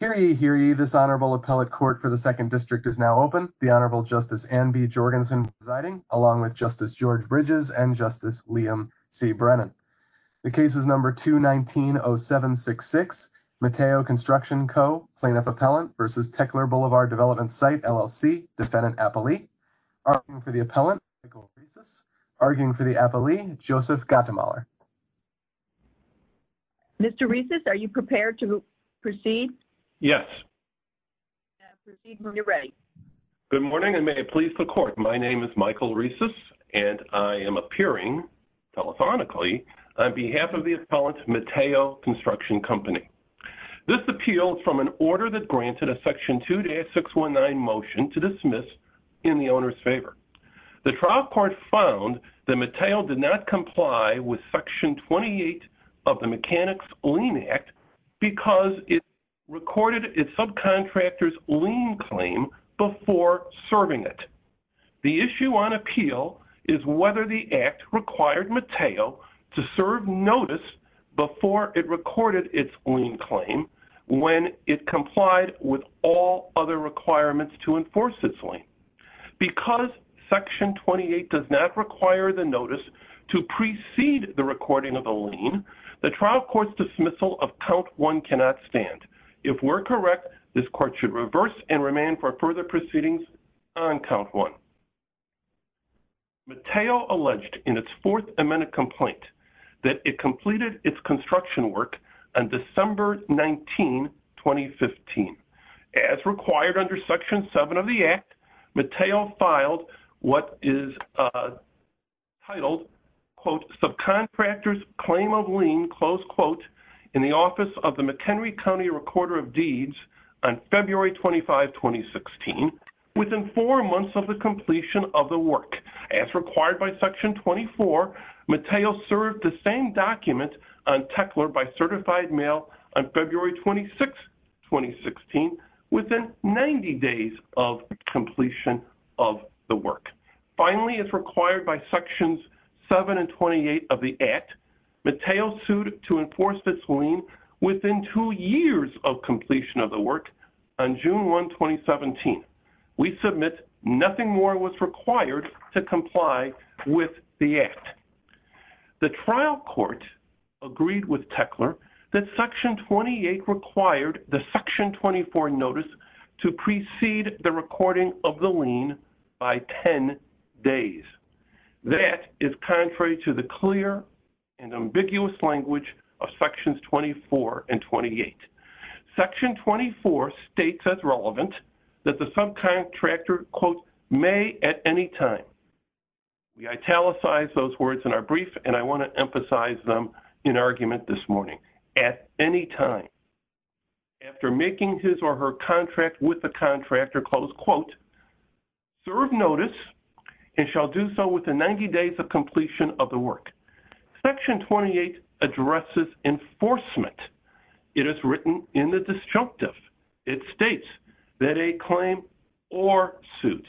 Hear ye, hear ye, this Honorable Appellate Court for the 2nd District is now open. The Honorable Justice Anne B. Jorgensen presiding, along with Justice George Bridges and Justice Liam C. Brennan. The case is No. 219-0766. Mateo Construction Co, Plaintiff Appellant v. Teckler Blvd Development Site LLC, Defendant Appellee. Arguing for the Appellant, Michael Rieses. Arguing for the Appellee, Joseph Gattemoller. Mr. Rieses, are you prepared to proceed? Yes. Proceed when you're ready. Good morning, and may it please the Court. My name is Michael Rieses, and I am appearing, telephonically, on behalf of the Appellant, Mateo Construction Co. This appeal is from an order that granted a Section 2-619 motion to dismiss in the owner's favor. The trial court found that Mateo did not comply with Section 28 of the Mechanics' Lien Act because it recorded its subcontractor's lien claim before serving it. The issue on appeal is whether the Act required Mateo to serve notice before it recorded its lien claim when it complied with all other requirements to enforce its lien. Because Section 28 does not require the notice to precede the recording of the lien, the trial court's dismissal of Count 1 cannot stand. If we're correct, this Court should reverse and remand for further proceedings on Count 1. Mateo alleged in its fourth amended complaint that it completed its construction work on December 19, 2015. As required under Section 7 of the Act, Mateo filed what is titled, quote, Subcontractor's Claim of Lien, close quote, in the Office of the McHenry County Recorder of Deeds on February 25, 2016, within four months of the completion of the work. As required by Section 24, Mateo served the same document on Techler by certified mail on February 26, 2016, within 90 days of completion of the work. Finally, as required by Sections 7 and 28 of the Act, Mateo sued to enforce this lien within two years of completion of the work on June 1, 2017. We submit nothing more was required to comply with the Act. The trial court agreed with Techler that Section 28 required the Section 24 notice to precede the recording of the lien by 10 days. That is contrary to the clear and ambiguous language of Sections 24 and 28. Section 24 states as relevant that the subcontractor, quote, may at any time. We italicize those words in our brief, and I want to emphasize them in argument this morning. At any time. After making his or her contract with the contractor, close quote, serve notice and shall do so within 90 days of completion of the work. Section 28 addresses enforcement. It is written in the disjunctive. It states that a claim or suit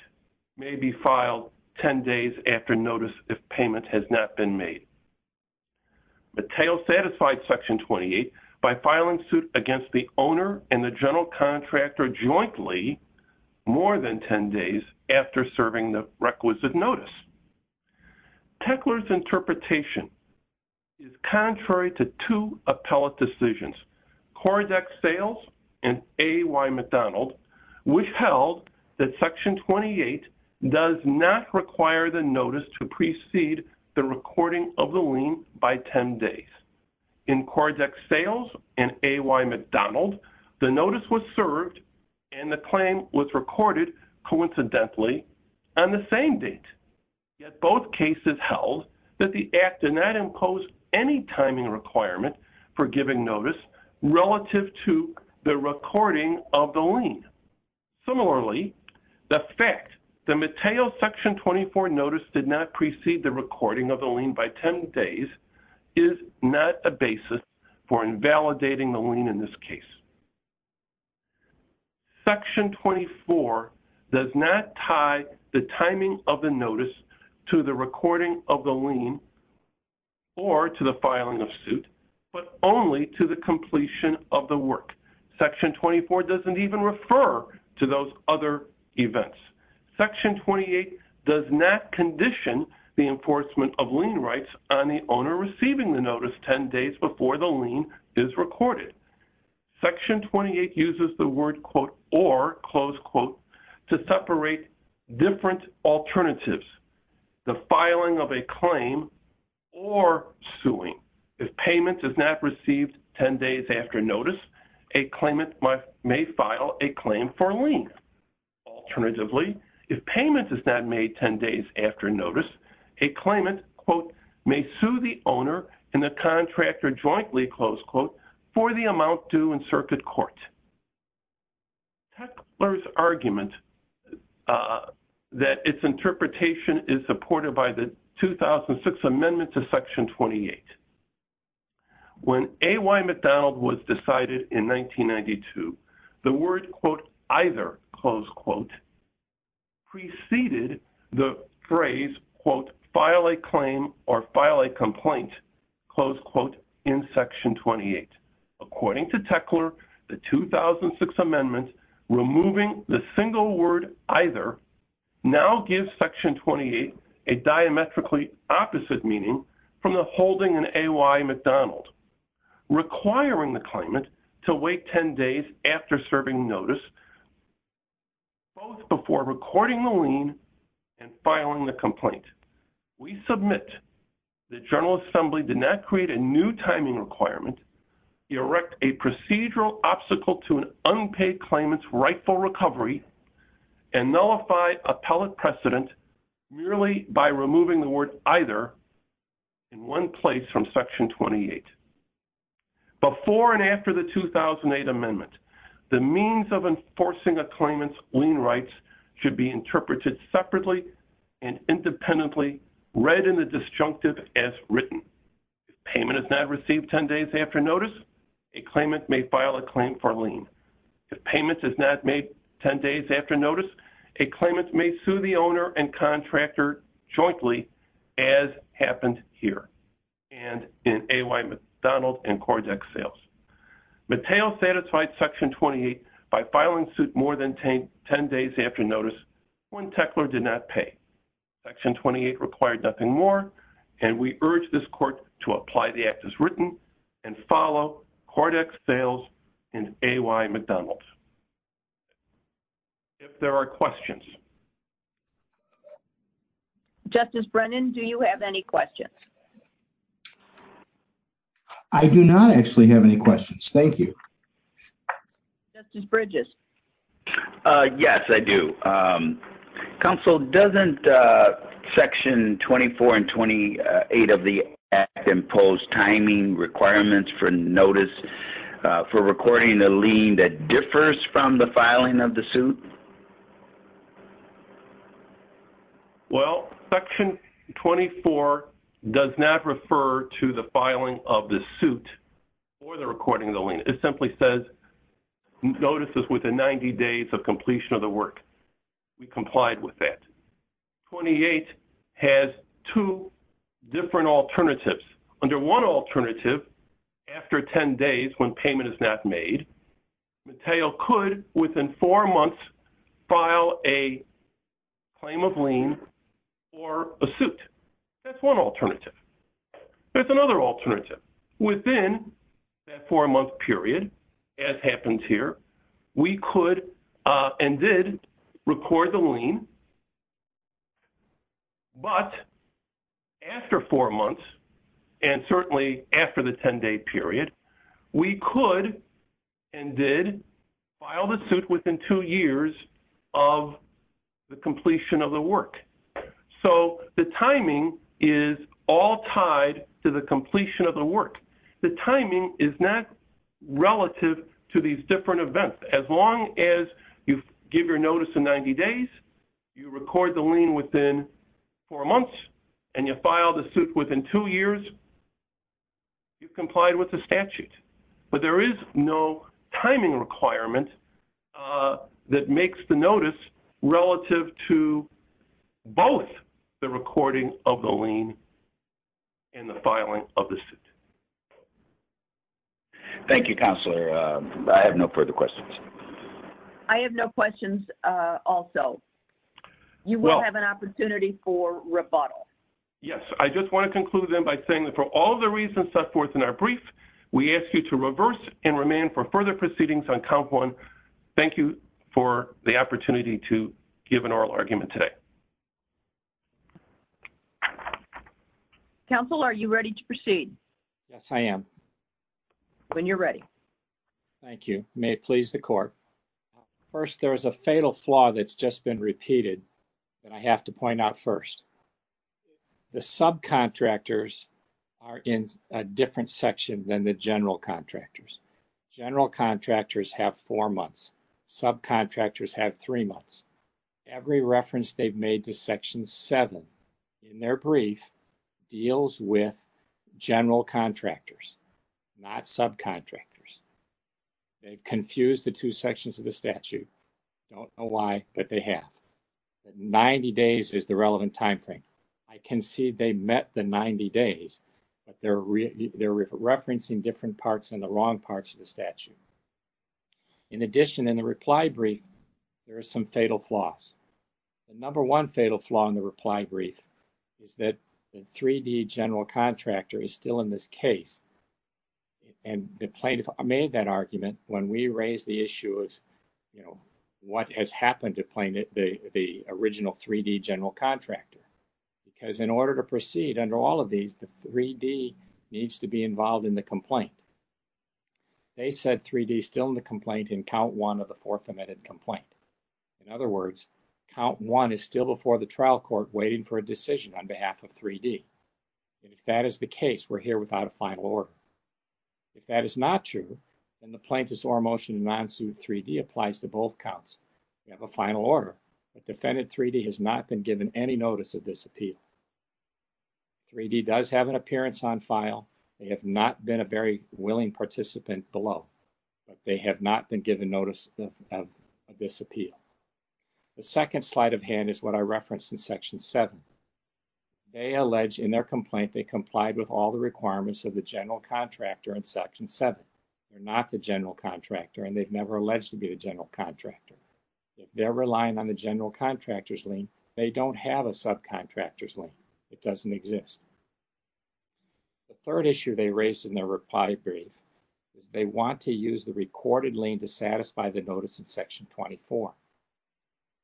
may be filed 10 days after notice if payment has not been made. Mateo satisfied Section 28 by filing suit against the owner and the general contractor jointly more than 10 days after serving the requisite notice. Techler's interpretation is contrary to two appellate decisions, CORDEX Sales and A.Y. McDonald, which held that Section 28 does not require the notice to precede the recording of the lien by 10 days. In CORDEX Sales and A.Y. McDonald, the notice was served and the claim was recorded coincidentally on the same date, yet both cases held that the act did not impose any timing requirement for giving notice relative to the recording of the lien. Similarly, the fact that Mateo's Section 24 notice did not precede the recording of the lien by 10 days is not a basis for invalidating the lien in this case. Section 24 does not tie the timing of the notice to the recording of the lien or to the filing of suit, but only to the completion of the work. Section 24 doesn't even refer to those other events. Section 28 does not condition the enforcement of lien rights on the owner receiving the notice 10 days before the lien is recorded. Section 28 uses the word, quote, or, close quote, to separate different alternatives, the filing of a claim or suing. If payment is not received 10 days after notice, a claimant may file a claim for lien. Alternatively, if payment is not made 10 days after notice, a claimant, quote, may sue the owner and the contractor jointly, close quote, for the amount due in circuit court. Teckler's argument that its interpretation is supported by the 2006 amendment to Section 28. When A.Y. McDonald was decided in 1992, the word, quote, either, close quote, preceded the phrase, quote, file a claim or file a complaint, close quote, in Section 28. According to Teckler, the 2006 amendment removing the single word either now gives Section 28 a diametrically opposite meaning from the holding in A.Y. McDonald, requiring the claimant to wait 10 days after serving notice, both before recording the lien and filing the complaint. We submit that General Assembly did not create a new timing requirement, erect a procedural obstacle to an unpaid claimant's rightful recovery, and nullified appellate precedent merely by removing the word either in one place from Section 28. Before and after the 2008 amendment, the means of enforcing a claimant's lien rights should be interpreted separately and independently, read in the disjunctive as written. If payment is not received 10 days after notice, a claimant may file a claim for lien. If payment is not made 10 days after notice, a claimant may sue the owner and contractor jointly, as happened here, and in A.Y. McDonald and Cordex sales. Mateo satisfied Section 28 by filing suit more than 10 days after notice when Teckler did not pay. Section 28 required nothing more, and we urge this court to apply the act as written and follow Cordex sales and A.Y. McDonald. If there are questions. Justice Brennan, do you have any questions? I do not actually have any questions. Thank you. Justice Bridges? Yes, I do. Counsel, doesn't Section 24 and 28 of the act impose timing requirements for notice for recording the lien that differs from the filing of the suit? Well, Section 24 does not refer to the filing of the suit or the recording of the lien. It simply says notices within 90 days of completion of the work. We complied with that. 28 has two different alternatives. Under one alternative, after 10 days when payment is not made, Mateo could, within four months, file a claim of lien or a suit. That's one alternative. There's another alternative. Within that four-month period, as happens here, we could and did record the lien. But after four months, and certainly after the 10-day period, we could and did file the suit within two years of the completion of the work. So the timing is all tied to the completion of the work. The timing is not relative to these different events. As long as you give your notice in 90 days, you record the lien within four months, and you file the suit within two years, you've complied with the statute. But there is no timing requirement that makes the notice relative to both the recording of the lien and the filing of the suit. Thank you, Counselor. I have no further questions. I have no questions also. You will have an opportunity for rebuttal. Yes. I just want to conclude then by saying that for all the reasons set forth in our brief, we ask you to reverse and remain for further proceedings on Count 1. Thank you for the opportunity to give an oral argument today. Counsel, are you ready to proceed? Yes, I am. When you're ready. Thank you. May it please the Court. First, there is a fatal flaw that's just been repeated that I have to point out first. The subcontractors are in a different section than the general contractors. General contractors have four months. Subcontractors have three months. Every reference they've made to Section 7 in their brief deals with general contractors, not subcontractors. They've confused the two sections of the statute. Don't know why, but they have. Ninety days is the relevant timeframe. I can see they met the 90 days, but they're referencing different parts and the wrong parts of the statute. In addition, in the reply brief, there are some fatal flaws. The number one fatal flaw in the reply brief is that the 3D general contractor is still in this case. And the plaintiff made that argument when we raised the issue is, you know, what has happened to the original 3D general contractor? Because in order to proceed under all of these, the 3D needs to be involved in the complaint. They said 3D is still in the complaint in count one of the fourth amended complaint. In other words, count one is still before the trial court waiting for a decision on behalf of 3D. If that is the case, we're here without a final order. If that is not true, then the plaintiff's or motion non-suit 3D applies to both counts. We have a final order. Defendant 3D has not been given any notice of this appeal. 3D does have an appearance on file. They have not been a very willing participant below, but they have not been given notice of this appeal. The second slide of hand is what I referenced in Section 7. They allege in their complaint they complied with all the requirements of the general contractor in Section 7. They're not the general contractor, and they've never alleged to be the general contractor. If they're relying on the general contractor's lien, they don't have a subcontractor's lien. It doesn't exist. The third issue they raised in their reply brief is they want to use the recorded lien to satisfy the notice in Section 24.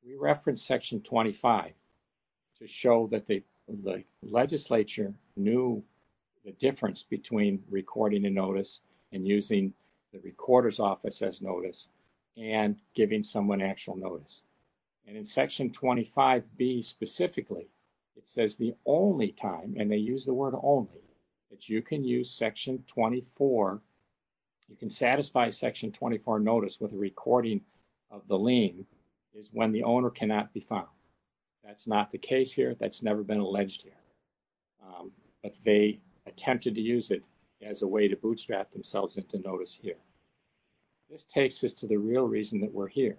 We referenced Section 25 to show that the legislature knew the difference between recording a notice and using the recorder's office as notice and giving someone actual notice. In Section 25B specifically, it says the only time, and they use the word only, that you can use Section 24. You can satisfy Section 24 notice with a recording of the lien is when the owner cannot be found. That's not the case here. That's never been alleged here, but they attempted to use it as a way to bootstrap themselves into notice here. This takes us to the real reason that we're here,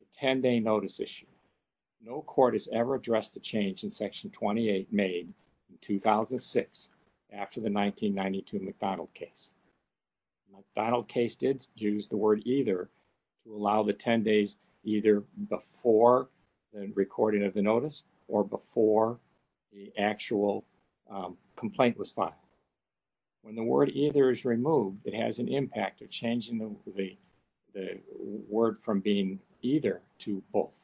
the 10-day notice issue. No court has ever addressed the change in Section 28 made in 2006 after the 1992 McDonald case. McDonald case did use the word either to allow the 10 days either before the recording of the notice or before the actual complaint was filed. When the word either is removed, it has an impact of changing the word from being either to both.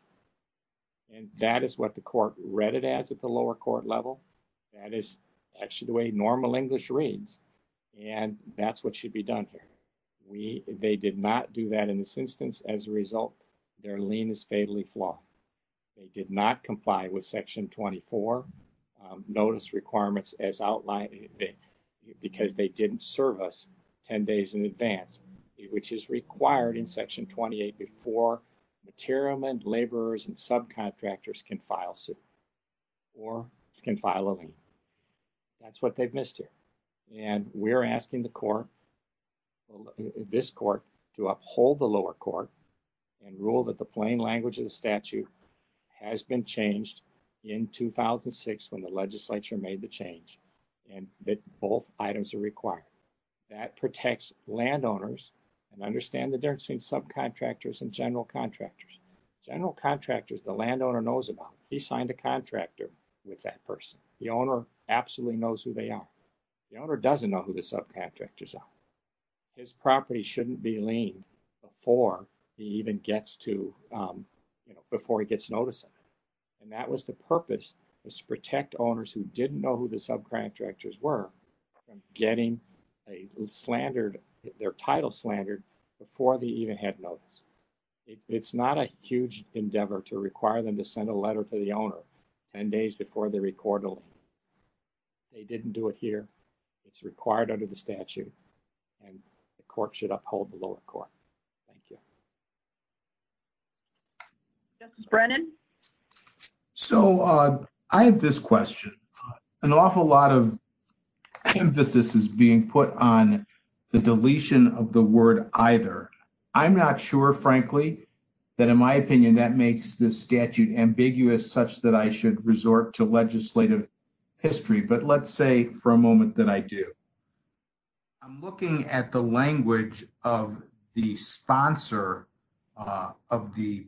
And that is what the court read it as at the lower court level. That is actually the way normal English reads, and that's what should be done here. They did not do that in this instance. As a result, their lien is fatally flawed. They did not comply with Section 24 notice requirements as outlined because they didn't service 10 days in advance, which is required in Section 28 before material and laborers and subcontractors can file suit or can file a lien. That's what they've missed here. And we're asking the court, this court, to uphold the lower court and rule that the plain language of the statute has been changed in 2006 when the legislature made the change and that both items are required. That protects landowners and understand the difference between subcontractors and general contractors. General contractors, the landowner knows about, he signed a contractor with that person. The owner absolutely knows who they are. The owner doesn't know who the subcontractors are. His property shouldn't be liened before he even gets to, you know, before he gets notice of it. And that was the purpose was to protect owners who didn't know who the subcontractors were from getting a slandered, their title slandered before they even had notice. It's not a huge endeavor to require them to send a letter to the owner 10 days before they record a lien. They didn't do it here. It's required under the statute. And the court should uphold the lower court. Thank you. This is Brennan. So I have this question. An awful lot of emphasis is being put on the deletion of the word either. I'm not sure, frankly, that in my opinion, that makes this statute ambiguous such that I should resort to legislative history. But let's say for a moment that I do. I'm looking at the language of the sponsor of the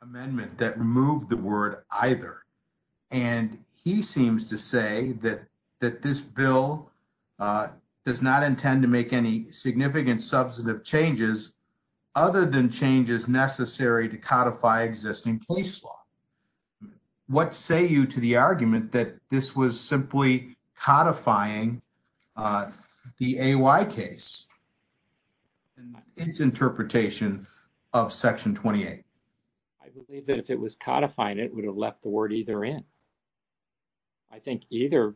amendment that removed the word either. And he seems to say that that this bill does not intend to make any significant substantive changes other than changes necessary to codify existing case law. What say you to the argument that this was simply codifying the A.Y. case and its interpretation of Section 28? I believe that if it was codifying it, it would have left the word either in. I think either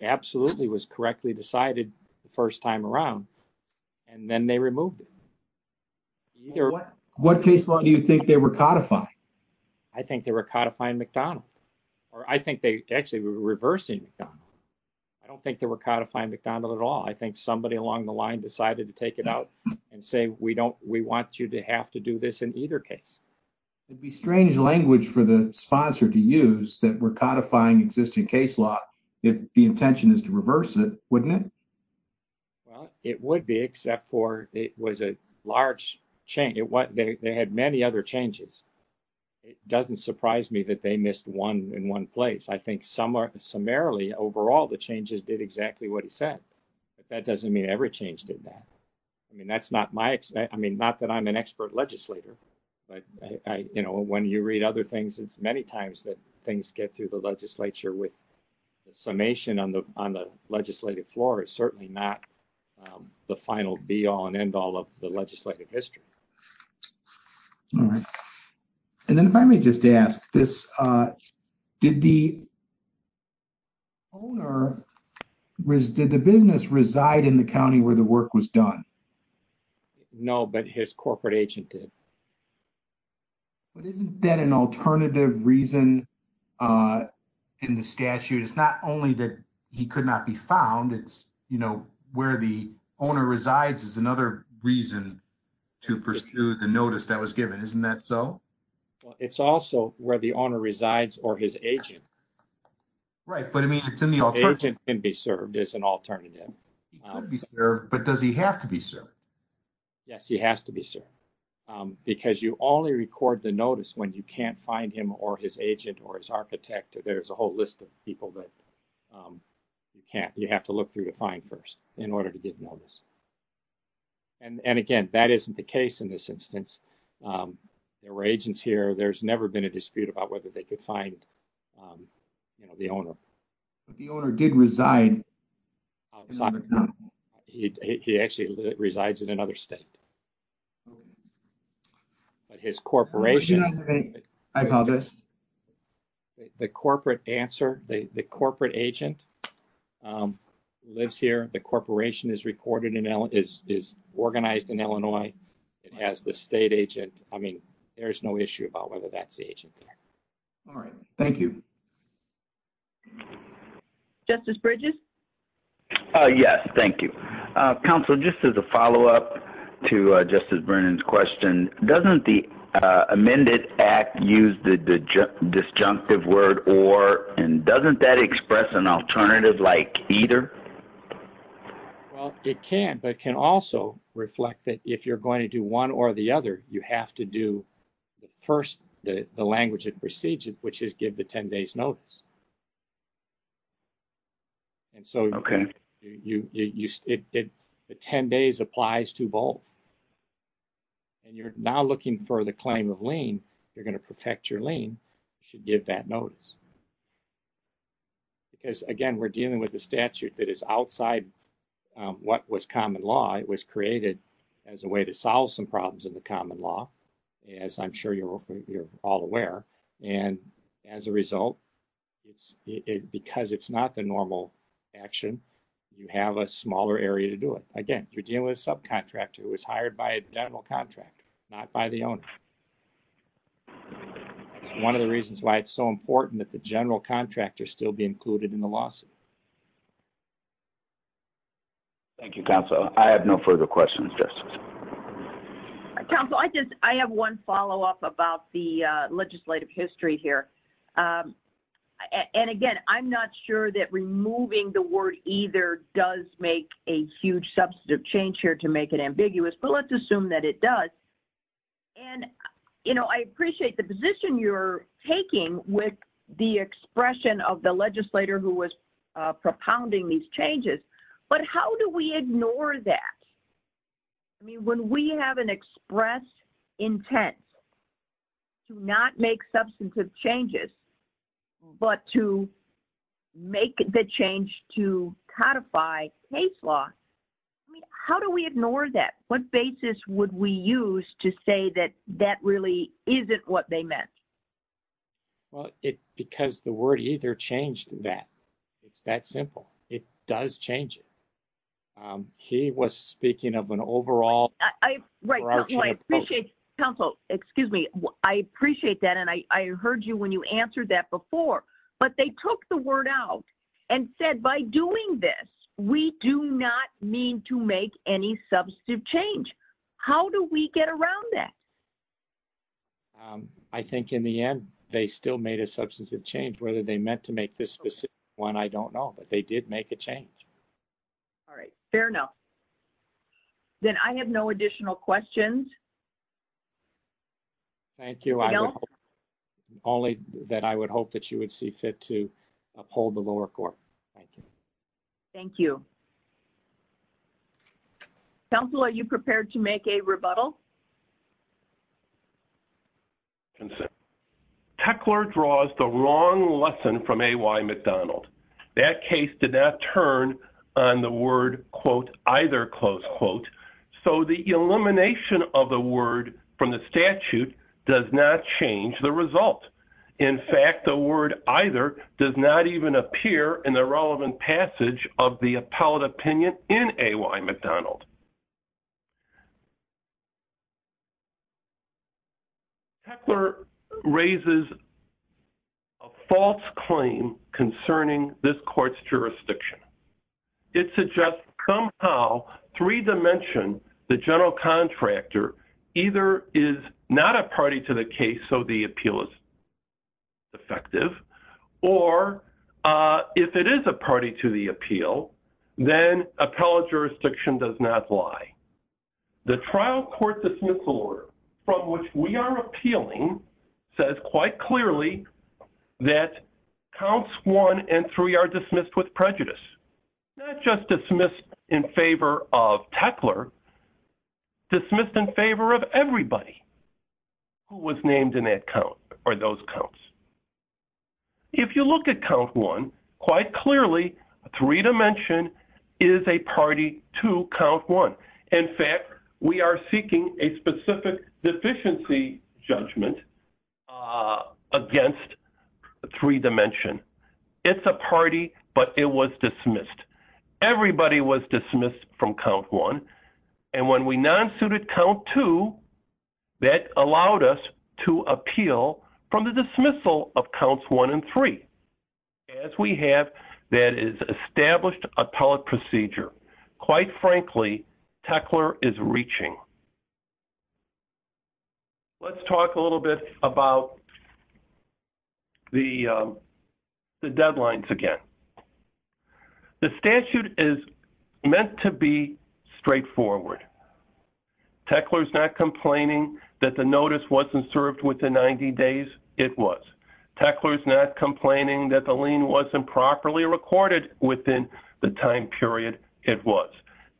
absolutely was correctly decided the first time around. And then they removed it. What case law do you think they were codifying? I think they were codifying McDonald or I think they actually were reversing McDonald. I don't think they were codifying McDonald at all. I think somebody along the line decided to take it out and say, we don't we want you to have to do this in either case. It'd be strange language for the sponsor to use that were codifying existing case law. If the intention is to reverse it, wouldn't it? Well, it would be except for it was a large change. What they had many other changes. It doesn't surprise me that they missed one in one place. I think some are summarily. Overall, the changes did exactly what he said. But that doesn't mean every change did that. I mean, that's not my I mean, not that I'm an expert legislator. You know, when you read other things, it's many times that things get through the legislature with the summation on the on the legislative floor. It's certainly not the final be all and end all of the legislative history. All right. And then if I may just ask this, did the. Owner was did the business reside in the county where the work was done? No, but his corporate agent did. But isn't that an alternative reason in the statute? It's not only that he could not be found. It's where the owner resides is another reason to pursue the notice that was given. Isn't that so? Well, it's also where the owner resides or his agent. Right. But I mean, it's in the agent can be served as an alternative. But does he have to be served? Yes, he has to be served because you only record the notice when you can't find him or his agent or his architect. There's a whole list of people that you can't you have to look through to find first in order to get notice. And again, that isn't the case in this instance. There were agents here. There's never been a dispute about whether they could find the owner, but the owner did reside. He actually resides in another state. But his corporation, I apologize. The corporate answer, the corporate agent lives here. The corporation is recorded and is organized in Illinois. It has the state agent. I mean, there is no issue about whether that's the agent. All right. Thank you. Justice Bridges. Yes. Thank you, counsel. Just as a follow up to Justice Brennan's question. Doesn't the amended act use the disjunctive word or and doesn't that express an alternative like either? Well, it can, but it can also reflect that if you're going to do one or the other, you have to do the first. The language that precedes it, which is give the 10 days notice. And so you use it, the 10 days applies to both. And you're now looking for the claim of lien. You're going to protect your lien. You should give that notice. Because, again, we're dealing with a statute that is outside what was common law. It was created as a way to solve some problems in the common law. As I'm sure you're all aware, and as a result, it's because it's not the normal action. You have a smaller area to do it again. You're dealing with a subcontractor who was hired by a general contract, not by the owner. One of the reasons why it's so important that the general contractor still be included in the lawsuit. Thank you, counsel. I have no further questions. Counsel, I just I have one follow up about the legislative history here. And again, I'm not sure that removing the word either does make a huge substantive change here to make it ambiguous, but let's assume that it does. And, you know, I appreciate the position you're taking with the expression of the legislator who was propounding these changes. But how do we ignore that? I mean, when we have an express intent to not make substantive changes, but to make the change to codify case law. How do we ignore that? What basis would we use to say that that really isn't what they meant? Well, it because the word either changed that it's that simple. It does change it. He was speaking of an overall. I right. I appreciate counsel. Excuse me. I appreciate that. And I heard you when you answered that before, but they took the word out and said, by doing this, we do not mean to make any substantive change. How do we get around that? I think in the end, they still made a substantive change whether they meant to make this specific one. I don't know, but they did make a change. All right. Fair enough. Then I have no additional questions. Thank you. I only that I would hope that you would see fit to uphold the lower court. Thank you. Thank you. Council, are you prepared to make a rebuttal? And so. Tuckler draws the wrong lesson from McDonald. That case did not turn on the word quote, either close quote. So, the elimination of the word from the statute does not change the result. In fact, the word either does not even appear in the relevant passage of the appellate opinion in McDonald. Tuckler raises a false claim concerning this court's jurisdiction. It suggests somehow three dimension, the general contractor either is not a party to the case. So, the appeal is effective, or if it is a party to the appeal, then appellate jurisdiction does not lie. The trial court dismissal order from which we are appealing says quite clearly that counts one and three are dismissed with prejudice. Not just dismissed in favor of Tuckler, dismissed in favor of everybody who was named in that count or those counts. If you look at count one, quite clearly, three dimension is a party to count one. In fact, we are seeking a specific deficiency judgment against three dimension. It's a party, but it was dismissed. Everybody was dismissed from count one. And when we non-suited count two, that allowed us to appeal from the dismissal of counts one and three. As we have, that is established appellate procedure. Quite frankly, Tuckler is reaching. Let's talk a little bit about the deadlines again. The statute is meant to be straightforward. Tuckler is not complaining that the notice wasn't served within 90 days. It was. Tuckler is not complaining that the lien wasn't properly recorded within the time period. It was.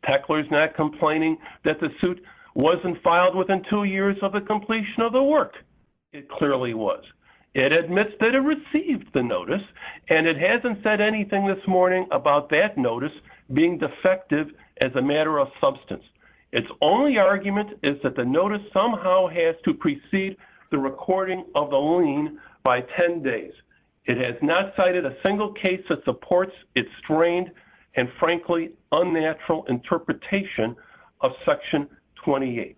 Tuckler is not complaining that the suit wasn't filed within two years of the completion of the work. It clearly was. It admits that it received the notice, and it hasn't said anything this morning about that notice being defective as a matter of substance. Its only argument is that the notice somehow has to precede the recording of the lien by 10 days. It has not cited a single case that supports its strained and frankly unnatural interpretation of Section 28.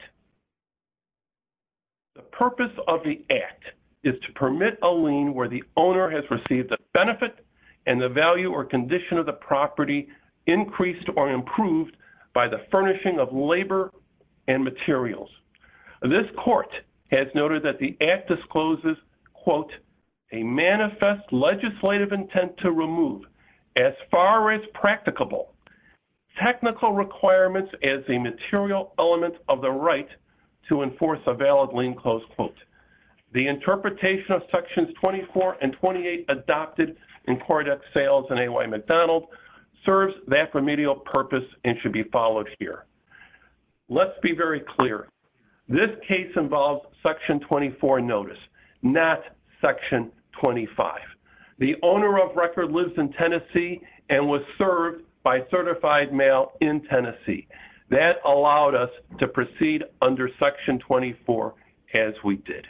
The purpose of the act is to permit a lien where the owner has received a benefit and the value or condition of the property increased or improved by the furnishing of labor and materials. This court has noted that the act discloses, quote, a manifest legislative intent to remove, as far as practicable, technical requirements as a material element of the right to enforce a valid lien clause, quote. The interpretation of Sections 24 and 28 adopted in Coridex Sales and A.Y. McDonald serves that remedial purpose and should be followed here. Let's be very clear. This case involves Section 24 notice, not Section 25. The owner of record lives in Tennessee and was served by certified mail in Tennessee. That allowed us to proceed under Section 24 as we did.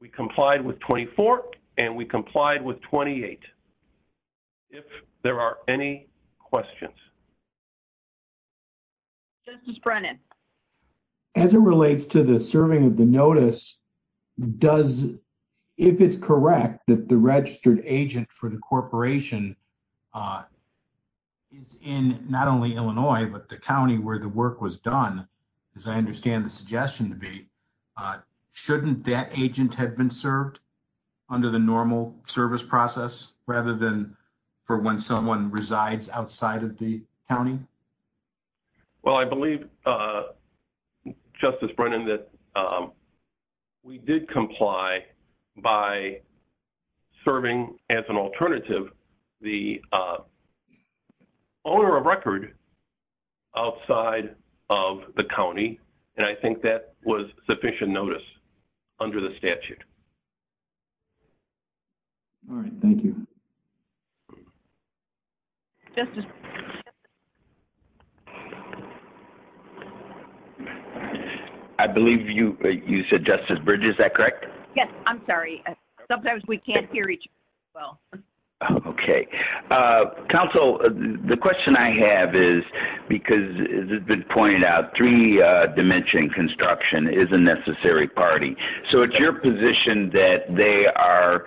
We complied with 24, and we complied with 28. If there are any questions. This is Brennan. As it relates to the serving of the notice, does, if it's correct that the registered agent for the corporation is in not only Illinois, but the county where the work was done, as I understand the suggestion to be, shouldn't that agent have been served under the normal service process rather than for when someone resides outside of the county? Well, I believe, Justice Brennan, that we did comply by serving as an alternative the owner of record outside of the county, and I think that was sufficient notice under the statute. All right. Thank you. Justice Bridges. I believe you said Justice Bridges. Is that correct? Yes. I'm sorry. Sometimes we can't hear each other well. Okay. Counsel, the question I have is, because it's been pointed out, three dimension construction is a necessary party. So it's your position that they are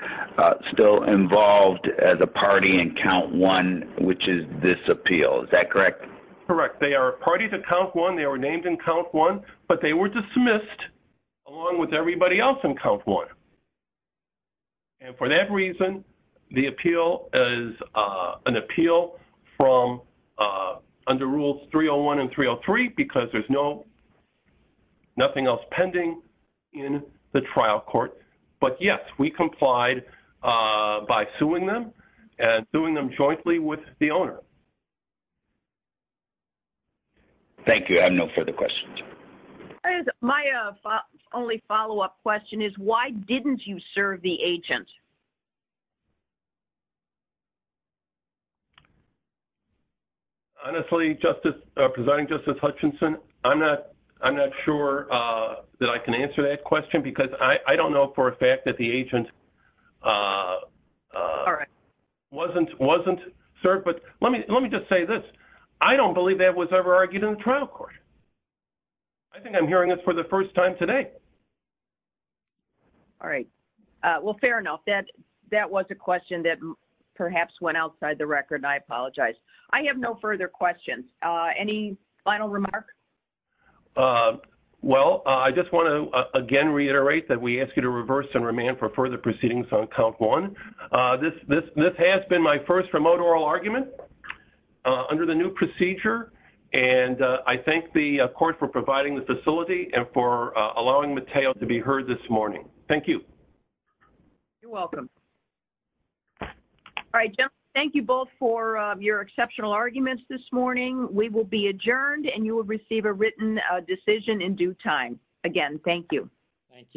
still involved as a party in count one, which is this appeal. Is that correct? Correct. They are a party to count one. They were named in count one, but they were dismissed along with everybody else in count one. And for that reason, the appeal is an appeal from under rules 301 and 303 because there's nothing else pending in the trial court. But, yes, we complied by suing them and suing them jointly with the owner. Thank you. I have no further questions. My only follow-up question is, why didn't you serve the agent? Honestly, Presiding Justice Hutchinson, I'm not sure that I can answer that question because I don't know for a fact that the agent wasn't served. But let me just say this. I don't believe that was ever argued in the trial court. I think I'm hearing this for the first time today. All right. Well, fair enough. That was a question that perhaps went outside the record. I apologize. I have no further questions. Any final remarks? Well, I just want to, again, reiterate that we ask you to reverse and remand for further proceedings on count one. This has been my first remote oral argument under the new procedure. And I thank the court for providing the facility and for allowing Mateo to be heard this morning. Thank you. You're welcome. All right, gentlemen, thank you both for your exceptional arguments this morning. We will be adjourned and you will receive a written decision in due time. Again, thank you. Thank you.